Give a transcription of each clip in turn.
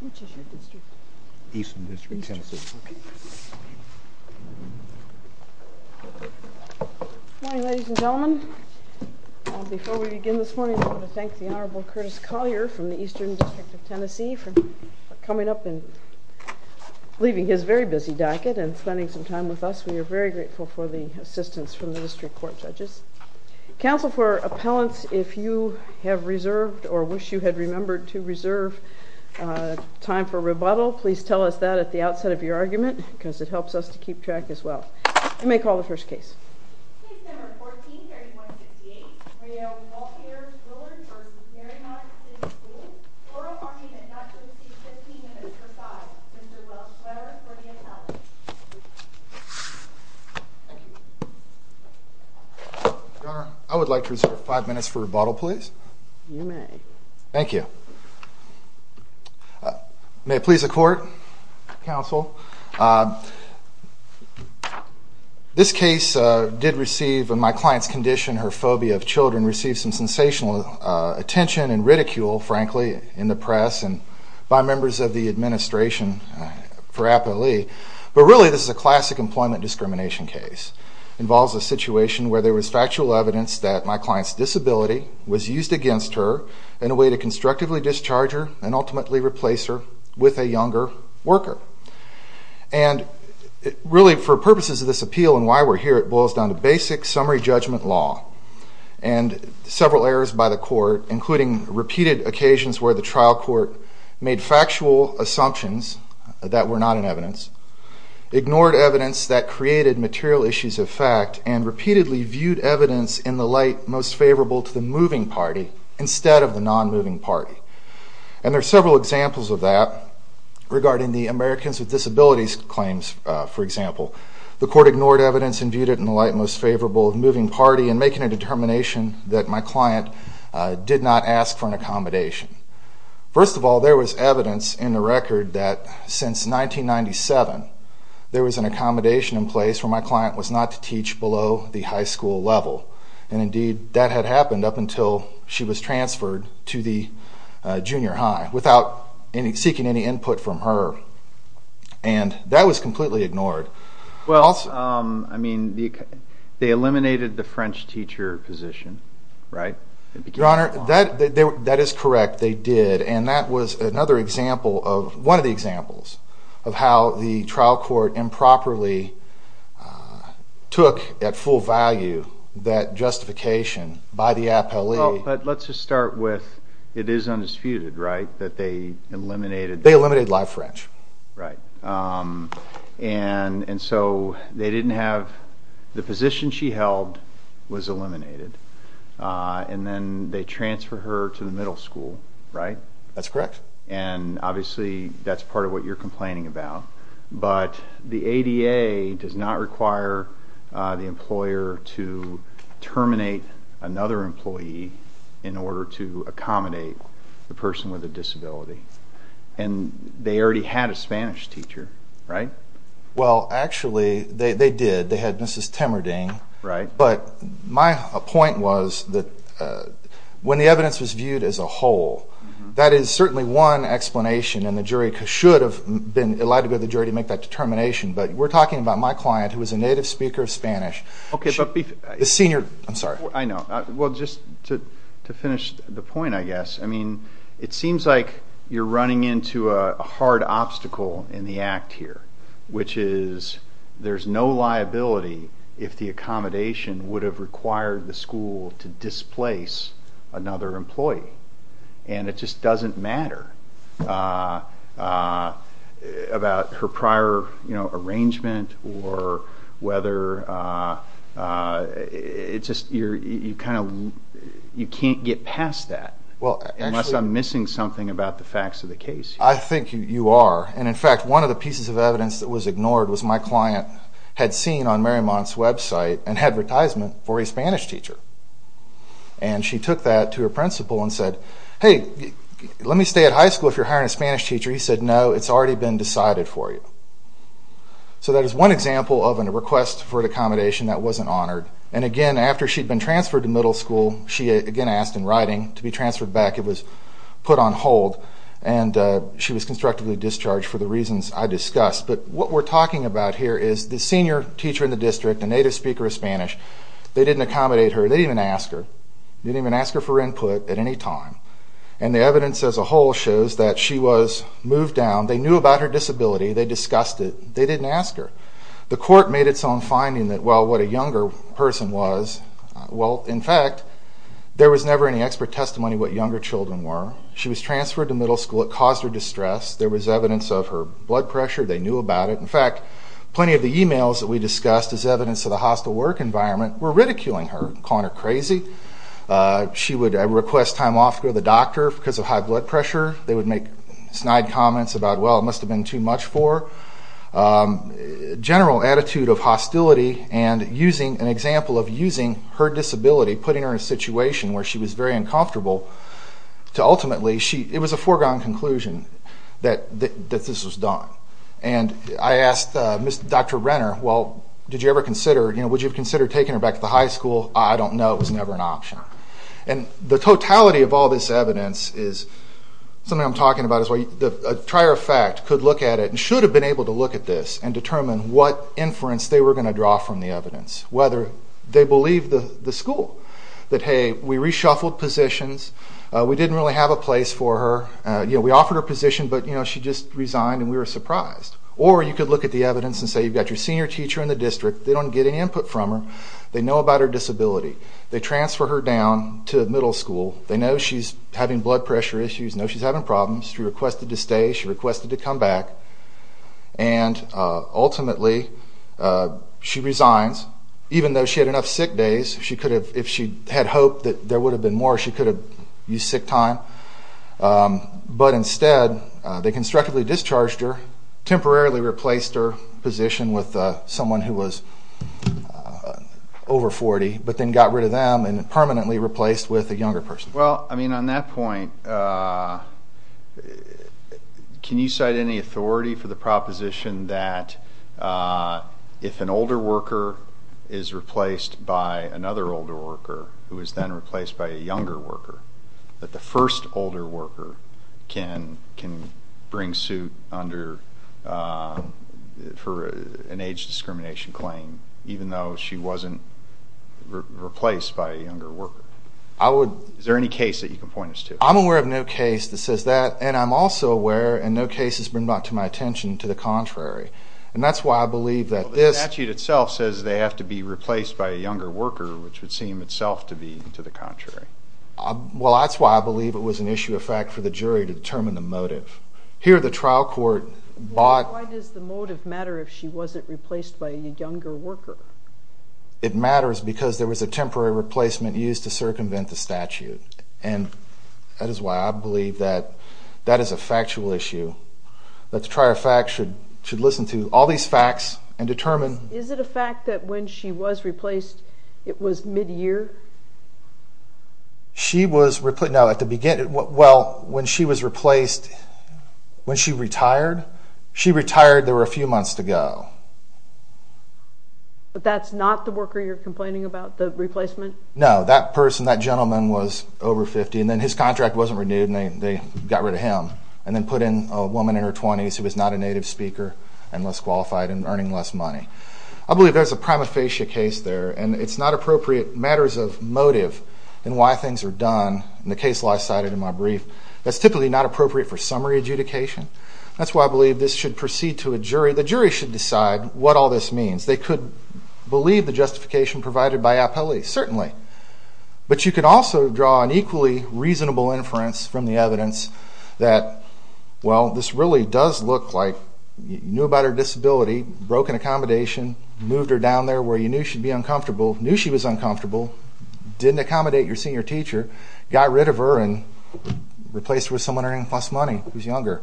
Which is your district? Eastern District, Tennessee. Okay. Morning, ladies and gentlemen. Before we begin this morning, I want to thank the Honorable Curtis Collier from the Eastern District of Tennessee for coming up and leaving his very busy docket and spending some time with us. We are very grateful for the assistance from the District Court judges. Counsel for appellants, if you have reserved or wish you had remembered to reserve time for rebuttal, please tell us that at the outset of your argument because it helps us to keep track as well. You may call the first case. Case number 14, hearing 158. Rayel Waltheer-Willard v. Mariemont City Schools. Oral argument, not guilty, 15 minutes per side. Mr. Welsh-Swearer for the appellant. Your Honor, I would like to reserve five minutes for rebuttal, please. You may. Thank you. May it please the Court, Counsel. This case did receive, in my client's condition, her phobia of children, received some sensational attention and ridicule, frankly, in the press and by members of the administration for appellee. But really, this is a classic employment discrimination case. Involves a situation where there was factual evidence that my client's disability was used against her in a way to constructively discharge her and ultimately replace her with a younger worker. And really, for purposes of this appeal and why we're here, it boils down to basic summary judgment law. And several errors by the court, including repeated occasions where the trial court made factual assumptions that were not in evidence, ignored evidence that created material issues of fact, and repeatedly viewed evidence in the light most favorable to the moving party instead of the non-moving party. And there are several examples of that regarding the Americans with Disabilities claims, for example. The court ignored evidence and viewed it in the light most favorable of the moving party in making a determination that my client did not ask for an accommodation. First of all, there was evidence in the record that since 1997, there was an accommodation in place for my client was not to teach below the high school level. And indeed, that had happened up until she was transferred to the junior high without seeking any input from her. And that was completely ignored. Well, I mean, they eliminated the French teacher position, right? Your Honor, that is correct, they did. And that was another example of, one of the examples, of how the trial court improperly took at full value that justification by the appellee. But let's just start with, it is undisputed, right? That they eliminated- They eliminated live French. Right. And so they didn't have, the position she held was eliminated. And then they transfer her to the middle school, right? That's correct. And obviously, that's part of what you're complaining about. But the ADA does not require the employer to terminate another employee in order to accommodate the person with a disability. And they already had a Spanish teacher, right? Well, actually, they did. They had Mrs. Temerding. Right. But my point was that when the evidence was viewed as a whole, that is certainly one explanation. And the jury should have been allowed to go to the jury to make that determination. But we're talking about my client, who was a native speaker of Spanish. Okay, but- The senior, I'm sorry. I know. Well, just to finish the point, I guess. I mean, it seems like you're running into a hard obstacle in the act here, which is there's no liability if the accommodation would have required the school to displace another employee. And it just doesn't matter about her prior arrangement, or whether it's just you can't get past that. Well, actually- Unless I'm missing something about the facts of the case. I think you are. And in fact, one of the pieces of evidence that was ignored was my client had seen on Marymont's website an advertisement for a Spanish teacher. And she took that to her principal and said, hey, let me stay at high school if you're hiring a Spanish teacher. He said, no, it's already been decided for you. So that is one example of a request for an accommodation that wasn't honored. And again, after she'd been transferred to middle school, she again asked in writing to be transferred back. It was put on hold. And she was constructively discharged for the reasons I discussed. But what we're talking about here is the senior teacher in the district, a native speaker of Spanish, they didn't accommodate her. They didn't even ask her. They didn't even ask her for input at any time. And the evidence as a whole shows that she was moved down. They knew about her disability. They discussed it. They didn't ask her. The court made its own finding that, well, what a younger person was. Well, in fact, there was never any expert testimony of what younger children were. She was transferred to middle school. It caused her distress. There was evidence of her blood pressure. They knew about it. In fact, plenty of the emails that we discussed as evidence of the hostile work environment were ridiculing her, calling her crazy. She would request time off to go to the doctor because of high blood pressure. They would make snide comments about, well, it must have been too much for her. General attitude of hostility and using an example of using her disability, putting her in a situation where she was very uncomfortable, to ultimately, it was a foregone conclusion that this was done. And I asked Dr. Renner, well, did you ever consider, would you consider taking her back to the high school? I don't know. It was never an option. And the totality of all this evidence is something I'm talking about is a trier of fact could look at it and should have been able to look at this and determine what inference they were gonna draw from the evidence, whether they believe the school, that, hey, we reshuffled positions. We didn't really have a place for her. We offered her a position, but she just resigned and we were surprised. Or you could look at the evidence and say, you've got your senior teacher in the district. They don't get any input from her. They know about her disability. They transfer her down to middle school. They know she's having blood pressure issues, know she's having problems. She requested to stay. She requested to come back. And ultimately, she resigns. Even though she had enough sick days, she could have, if she had hoped that there would have been more, she could have used sick time. But instead, they constructively discharged her, temporarily replaced her position with someone who was over 40, but then got rid of them and permanently replaced with a younger person. Well, I mean, on that point, can you cite any authority for the proposition that if an older worker is replaced by another older worker, who is then replaced by a younger worker, that the first older worker can bring suit for an age discrimination claim, even though she wasn't replaced by a younger worker? Is there any case that you can point us to? I'm aware of no case that says that. And I'm also aware, and no case has been brought to my attention, to the contrary. And that's why I believe that this- The statute itself says they have to be replaced by a younger worker, which would seem itself to be to the contrary. Well, that's why I believe it was an issue of fact for the jury to determine the motive. Here, the trial court bought- Why does the motive matter if she wasn't replaced by a younger worker? It matters because there was a temporary replacement used to circumvent the statute. And that is why I believe that that is a factual issue. That the trial fact should listen to all these facts and determine- Is it a fact that when she was replaced, it was mid-year? She was replaced- No, at the beginning- Well, when she was replaced, when she retired, she retired, there were a few months to go. But that's not the worker you're complaining about, the replacement? No, that person, that gentleman was over 50, and then his contract wasn't renewed, and they got rid of him, and then put in a woman in her 20s who was not a native speaker, and less qualified, and earning less money. I believe there's a prima facie case there, and it's not appropriate matters of motive in why things are done. And the case I cited in my brief, that's typically not appropriate for summary adjudication. That's why I believe this should proceed to a jury. The jury should decide what all this means. They could believe the justification provided by appellees, certainly. But you could also draw an equally reasonable inference from the evidence that, well, this really does look like you knew about her disability, broke an accommodation, moved her down there where you knew she'd be uncomfortable, knew she was uncomfortable, didn't accommodate your senior teacher, got rid of her, and replaced her with someone earning less money who's younger.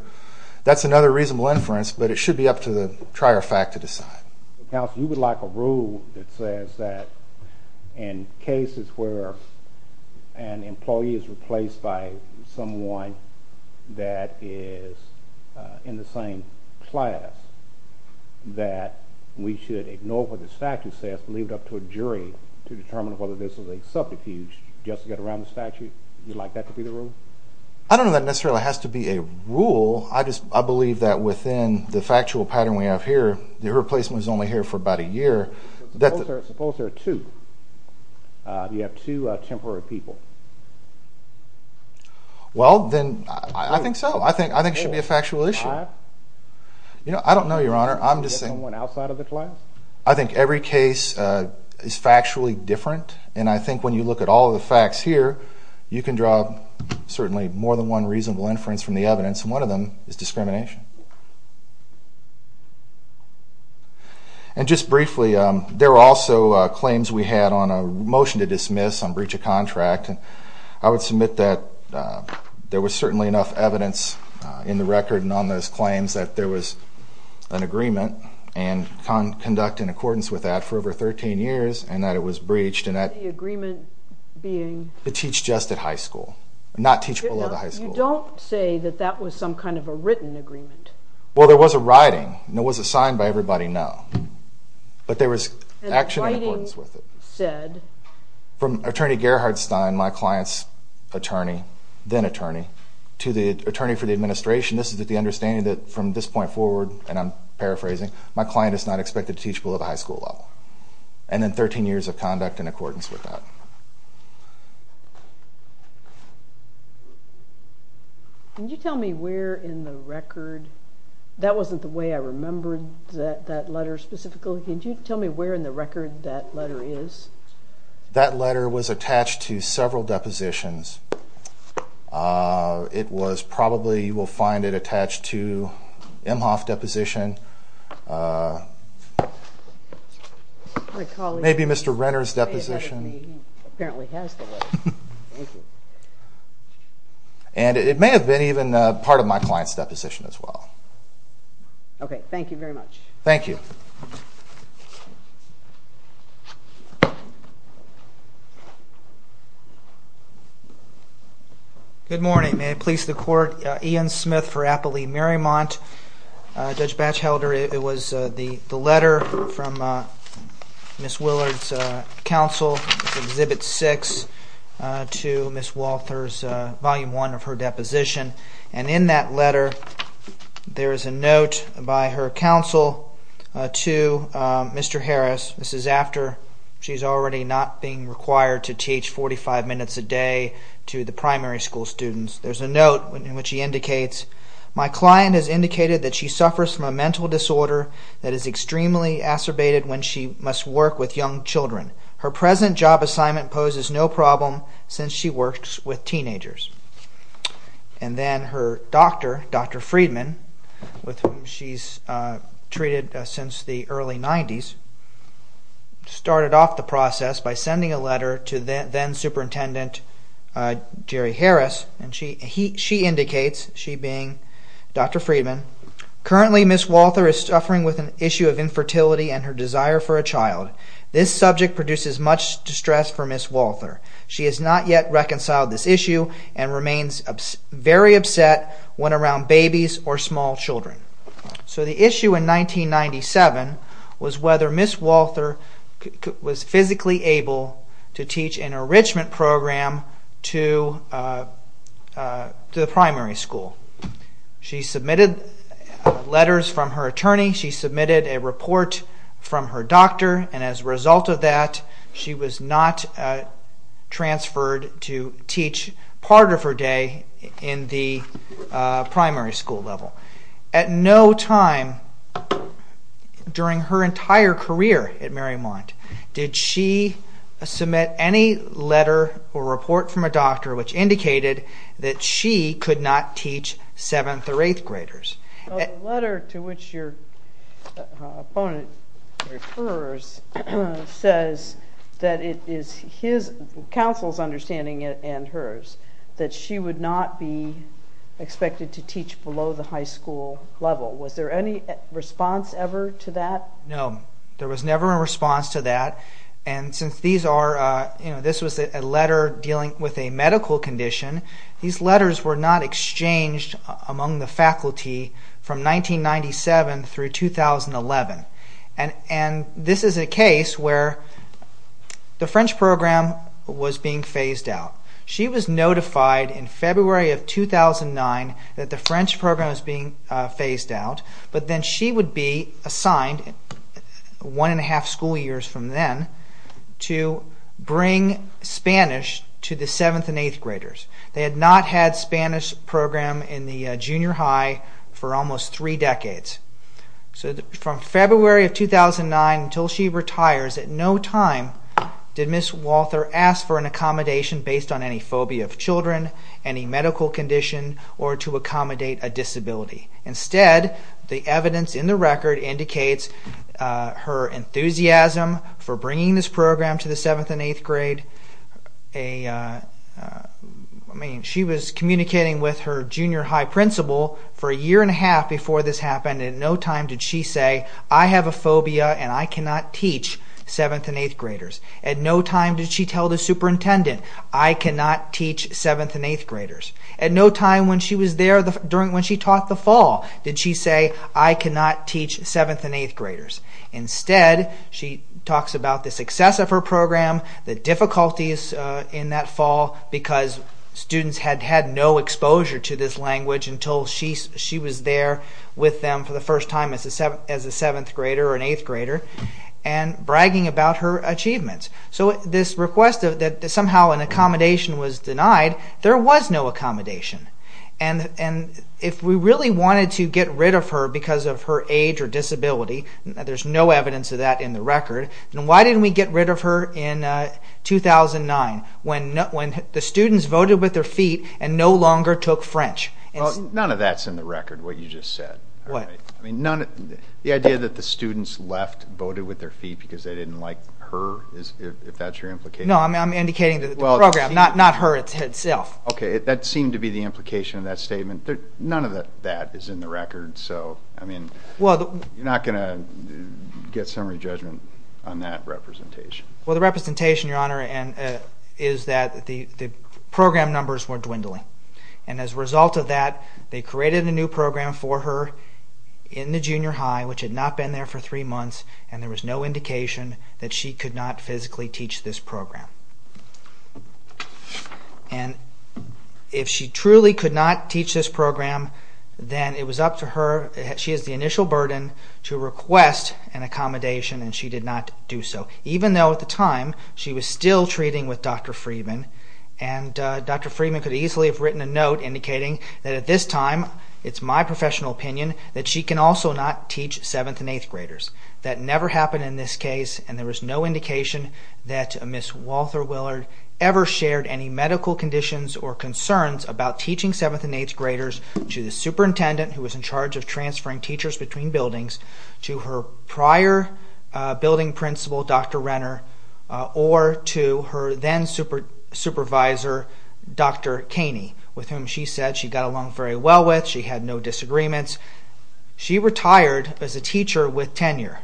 That's another reasonable inference, but it should be up to the trier fact to decide. Counsel, you would like a rule that says that in cases where an employee is replaced by someone that is in the same class, that we should ignore what the statute says, leave it up to a jury to determine whether this is a subterfuge just to get around the statute? You'd like that to be the rule? I don't know that necessarily has to be a rule. I just, I believe that within the factual pattern we have here, the replacement was only here for about a year. Suppose there are two. You have two temporary people. Well, then, I think so. I think it should be a factual issue. You know, I don't know, Your Honor. I'm just saying. Someone outside of the class? I think every case is factually different. And I think when you look at all of the facts here, you can draw certainly more than one reasonable inference from the evidence, and one of them is discrimination. And just briefly, there were also claims we had on a motion to dismiss, on breach of contract. I would submit that there was certainly enough evidence in the record and on those claims that there was an agreement and conduct in accordance with that for over 13 years, and that it was breached, and that. The agreement being? To teach just at high school, not teach below the high school level. You don't say that that was some kind of a written agreement. Well, there was a writing, and it was assigned by everybody now. But there was action in accordance with it. And the writing said? From Attorney Gerhard Stein, my client's attorney, then attorney, to the attorney for the administration, this is the understanding that from this point forward, and I'm paraphrasing, my client is not expected to teach below the high school level. And then 13 years of conduct in accordance with that. Can you tell me where in the record, that wasn't the way I remembered that letter specifically. Can you tell me where in the record that letter is? That letter was attached to several depositions. It was probably, you will find it attached to Emhoff Deposition. Maybe Mr. Renner's deposition. And it may have been even part of my client's deposition as well. Okay, thank you very much. Thank you. Good morning, may I please the court, Ian Smith for Appalachian Marymount. Judge Batchelder, it was the letter from Ms. Willard's counsel, exhibit six, to Ms. Walther's volume one of her deposition. And in that letter, there is a note by her counsel to Mr. Harris. This is after she's already not being required to teach 45 minutes a day to the primary school students. There's a note in which he indicates, my client has indicated that she suffers from a mental disorder that is extremely acerbated when she must work with young children. Her present job assignment poses no problem since she works with teenagers. And then her doctor, Dr. Friedman, with whom she's treated since the early 90s, started off the process by sending a letter to then superintendent Jerry Harris. And she indicates, she being Dr. Friedman, currently Ms. Walther is suffering with an issue of infertility and her desire for a child. This subject produces much distress for Ms. Walther. She has not yet reconciled this issue and remains very upset when around babies or small children. So the issue in 1997 was whether Ms. Walther was physically able to teach an enrichment program to the primary school. She submitted letters from her attorney. She submitted a report from her doctor. And as a result of that, she was not transferred to teach part of her day in the primary school level. At no time during her entire career at Marymount, did she submit any letter or report from a doctor which indicated that she could not teach seventh or eighth graders. The letter to which your opponent refers says that it is his counsel's understanding and hers that she would not be expected to teach below the high school level. Was there any response ever to that? No, there was never a response to that. And since these are, this was a letter dealing with a medical condition, these letters were not exchanged among the faculty from 1997 through 2011. And this is a case where the French program was being phased out. She was notified in February of 2009 that the French program was being phased out, but then she would be assigned one and a half school years from then to bring Spanish to the seventh and eighth graders. They had not had Spanish program in the junior high for almost three decades. So from February of 2009 until she retires, at no time did Ms. Walther ask for an accommodation based on any phobia of children, any medical condition, or to accommodate a disability. Instead, the evidence in the record indicates her enthusiasm for bringing this program to the seventh and eighth grade. She was communicating with her junior high principal for a year and a half before this happened. At no time did she say, I have a phobia and I cannot teach seventh and eighth graders. At no time did she tell the superintendent, I cannot teach seventh and eighth graders. At no time when she taught the fall did she say, I cannot teach seventh and eighth graders. Instead, she talks about the success of her program, the difficulties in that fall because students had had no exposure to this language until she was there with them for the first time as a seventh grader or an eighth grader and bragging about her achievements. So this request that somehow an accommodation was denied, there was no accommodation. And if we really wanted to get rid of her because of her age or disability, there's no evidence of that in the record, then why didn't we get rid of her in 2009 when the students voted with their feet and no longer took French? None of that's in the record, what you just said. What? The idea that the students left, voted with their feet because they didn't like her, if that's your implication? No, I'm indicating the program, not her itself. OK, that seemed to be the implication of that statement. None of that is in the record. So I mean, you're not going to get summary judgment on that representation. Well, the representation, Your Honor, is that the program numbers were dwindling. And as a result of that, they created a new program for her in the junior high, which had not been there for three months. And there was no indication that she could not physically teach this program. And if she truly could not teach this program, then it was up to her. She has the initial burden to request an accommodation, and she did not do so. Even though at the time, she was still treating with Dr. Friedman. And Dr. Friedman could easily have written a note indicating that at this time, it's my professional opinion that she can also not teach seventh and eighth graders. That never happened in this case, and there was no indication that Ms. Walters Willard ever shared any medical conditions or concerns about teaching seventh and eighth graders to the superintendent, who was in charge of transferring teachers between buildings, to her prior building principal, Dr. Renner, or to her then supervisor, Dr. Kaney, with whom she said she got along very well with. She had no disagreements. She retired as a teacher with tenure.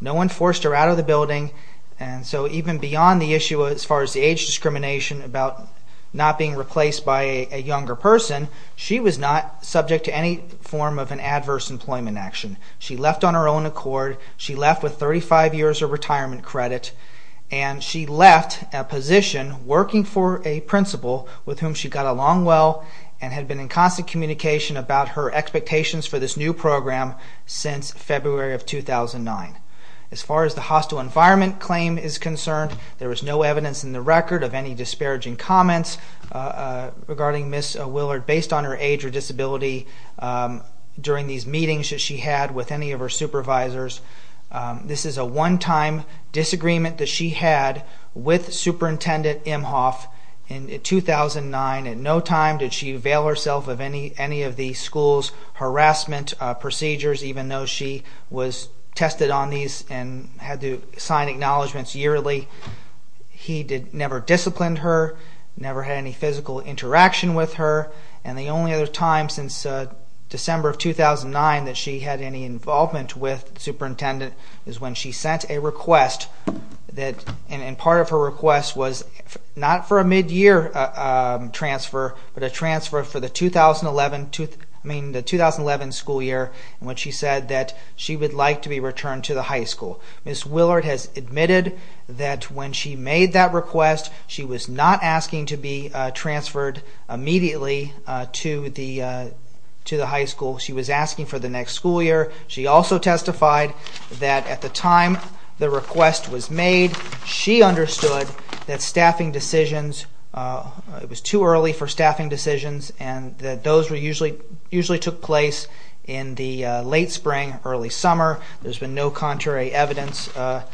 No one forced her out of the building. And so even beyond the issue as far as the age discrimination about not being replaced by a younger person, she was not subject to any form of an adverse employment action. She left on her own accord. She left with 35 years of retirement credit. And she left a position working for a principal with whom she got along well and had been in constant communication about her expectations for this new program since February of 2009. As far as the hostile environment claim is concerned, there was no evidence in the record of any disparaging comments regarding Ms. Willard based on her age or disability during these meetings that she had with any of her supervisors. This is a one-time disagreement that she had with Superintendent Imhoff in 2009. At no time did she avail herself of any of the school's harassment procedures, even though she was tested on these and had to sign acknowledgments yearly. He never disciplined her, never had any physical interaction with her. And the only other time since December of 2009 that she had any involvement with the superintendent is when she sent a request. And part of her request was not for a mid-year transfer, but a transfer for the 2011 school year, when she said that she would like to be returned to the high school. Ms. Willard has admitted that when she made that request, she was not asking to be transferred immediately to the high school. She was asking for the next school year. She also testified that at the time the request was made, she understood that staffing decisions, it was too early for staffing decisions, and that those usually took place in the late spring, early summer. There's been no contrary evidence to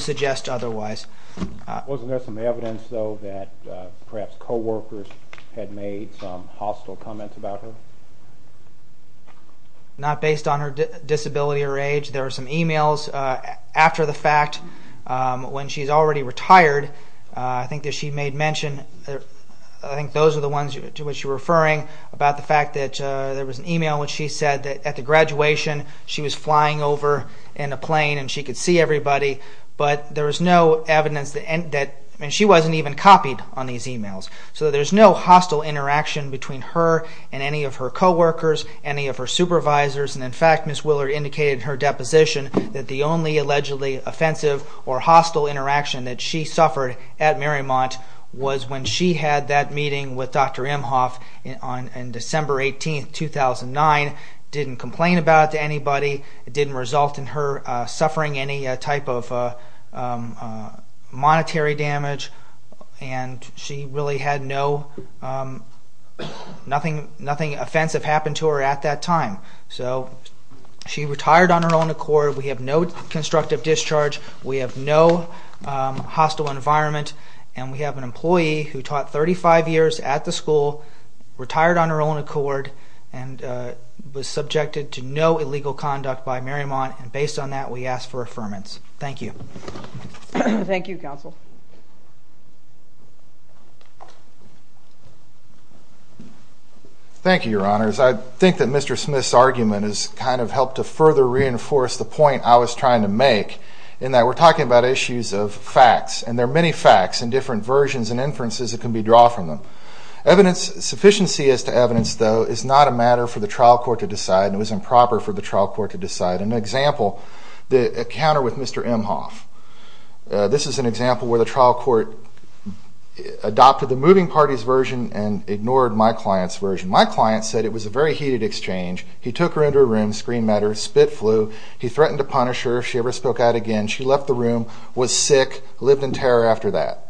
suggest otherwise. Wasn't there some evidence, though, that perhaps co-workers had made some hostile comments about her? Not based on her disability or age. There were some emails after the fact, when she's already retired, I think that she made mention. I think those are the ones to which you're referring, about the fact that there was an email in which she said that at the graduation, she was flying over in a plane and she could see everybody. But there was no evidence that she wasn't even copied on these emails. So there's no hostile interaction between her and any of her co-workers, any of her supervisors. And in fact, Ms. Willard indicated in her deposition that the only allegedly offensive or hostile interaction that she suffered at Marymount was when she had that meeting with Dr. Imhoff on December 18, 2009. Didn't complain about it to anybody. It didn't result in her suffering any type of monetary damage. And she really had nothing offensive happen to her at that time. So she retired on her own accord. We have no constructive discharge. We have no hostile environment. And we have an employee who taught 35 years at the school, retired on her own accord, and was subjected to no illegal conduct by Marymount. And based on that, we ask for affirmance. Thank you. Thank you, counsel. Thank you, Your Honors. I think that Mr. Smith's argument has kind of helped to further reinforce the point I was trying to make, in that we're talking about issues of facts. And there are many facts and different versions and inferences that can be drawn from them. Sufficiency as to evidence, though, is not a matter for the trial court to decide. And it was improper for the trial court to decide. An example, the encounter with Mr. Imhoff. This is an example where the trial court adopted the moving party's version and ignored my client's version. My client said it was a very heated exchange. He took her into a room, screened at her, spit flew. He threatened to punish her if she ever spoke out again. She left the room, was sick, lived in terror after that.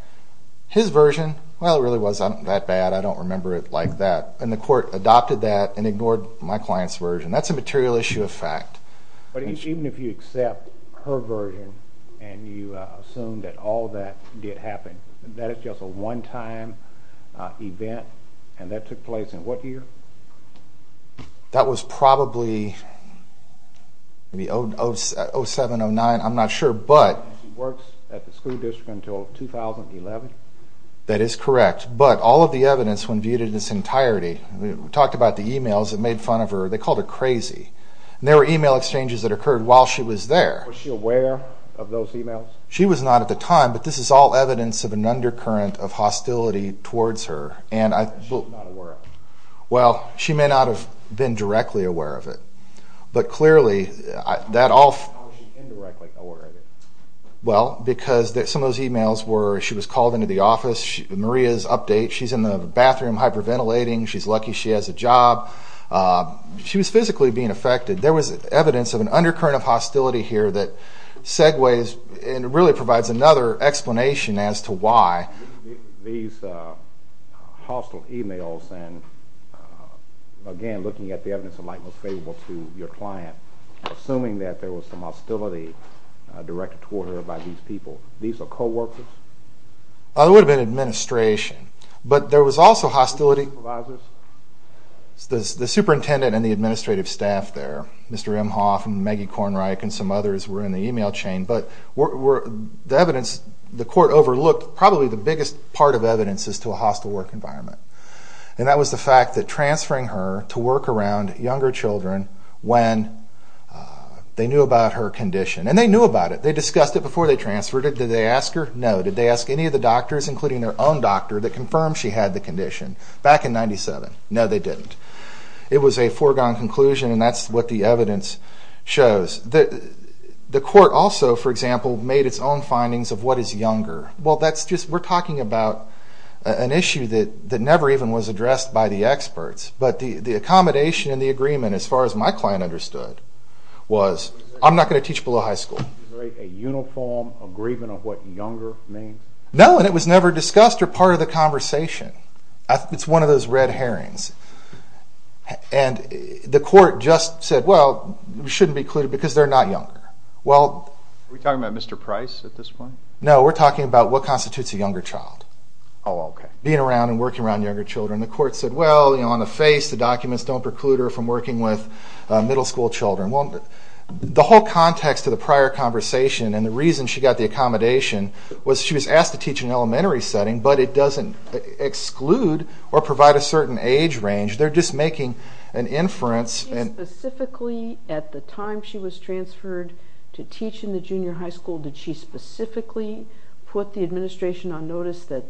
His version, well, it really wasn't that bad. I don't remember it like that. And the court adopted that and ignored my client's version. That's a material issue of fact. But even if you accept her version and you assume that all that did happen, that it's just a one-time event, and that took place in what year? That was probably maybe 07, 09, I'm not sure. And she worked at the school district until 2011? That is correct. But all of the evidence, when viewed in its entirety, we talked about the emails that made fun of her. They called her crazy. And there were email exchanges that occurred while she was there. Was she aware of those emails? She was not at the time. But this is all evidence of an undercurrent of hostility towards her. And she's not aware of it? Well, she may not have been directly aware of it. But clearly, that all How is she indirectly aware of it? Well, because some of those emails were she was called into the office, Maria's update, she's in the bathroom hyperventilating, she's lucky she has a job. She was physically being affected. There was evidence of an undercurrent of hostility here that segues and really provides another explanation as to why. These hostile emails and, again, looking at the evidence of likeliness favorable to your client, assuming that there was some hostility directed toward her by these people. These are co-workers? It would have been administration. But there was also hostility The supervisors? The superintendent and the administrative staff there, Mr. Imhoff and Maggie Kornreich and some others were in the email chain. But the evidence the court overlooked, probably the biggest part of evidence is to a hostile work environment. And that was the fact that transferring her to work around younger children when they knew about her condition. And they knew about it. They discussed it before they transferred her. Did they ask her? No. Did they ask any of the doctors, including their own doctor, that confirmed she had the condition back in 97? No, they didn't. It was a foregone conclusion. And that's what the evidence shows. The court also, for example, made its own findings of what is younger. Well, that's just we're talking about an issue that never even was addressed by the experts. But the accommodation and the agreement, as far as my client understood, was I'm not going to teach below high school. Is there a uniform agreement of what younger means? No, and it was never discussed or part of the conversation. It's one of those red herrings. And the court just said, well, it shouldn't be included because they're not younger. Are we talking about Mr. Price at this point? No, we're talking about what constitutes a younger child. Oh, OK. Being around and working around younger children. The court said, well, on the face, the documents don't preclude her from working with middle school children. Well, the whole context of the prior conversation and the reason she got the accommodation was she was asked to teach in an elementary setting, but it doesn't exclude or provide a certain age range. They're just making an inference. And specifically, at the time she was transferred to teach in the junior high school, did she specifically put the administration on notice that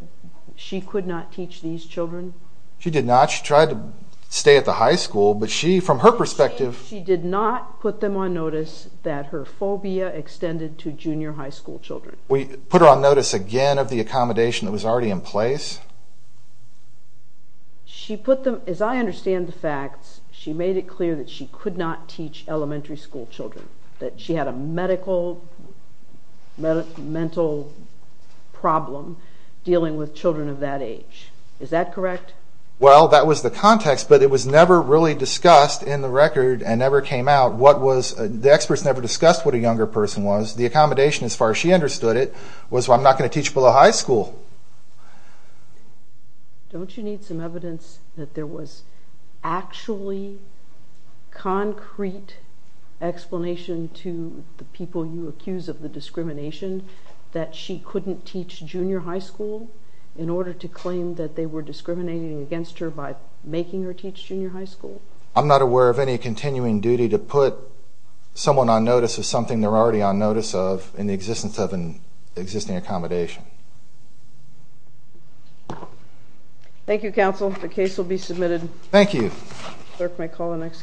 she could not teach these children? She did not. She tried to stay at the high school, but she, from her perspective. She did not put them on notice that her phobia extended to junior high school children. We put her on notice again of the accommodation that was already in place? She put them, as I understand the facts, she made it clear that she could not teach elementary school children, that she had a medical, mental problem. Dealing with children of that age. Is that correct? Well, that was the context. But it was never really discussed in the record and never came out. The experts never discussed what a younger person was. The accommodation, as far as she understood it, was I'm not going to teach below high school. Don't you need some evidence that there was actually concrete explanation to the people you accuse of the discrimination, that she couldn't teach junior high school in order to claim that they were discriminating against her by making her teach junior high school? I'm not aware of any continuing duty to put someone on notice of something they're already on notice of in the existence of an existing accommodation. Thank you, counsel. The case will be submitted. Thank you. Clerk may call the next case.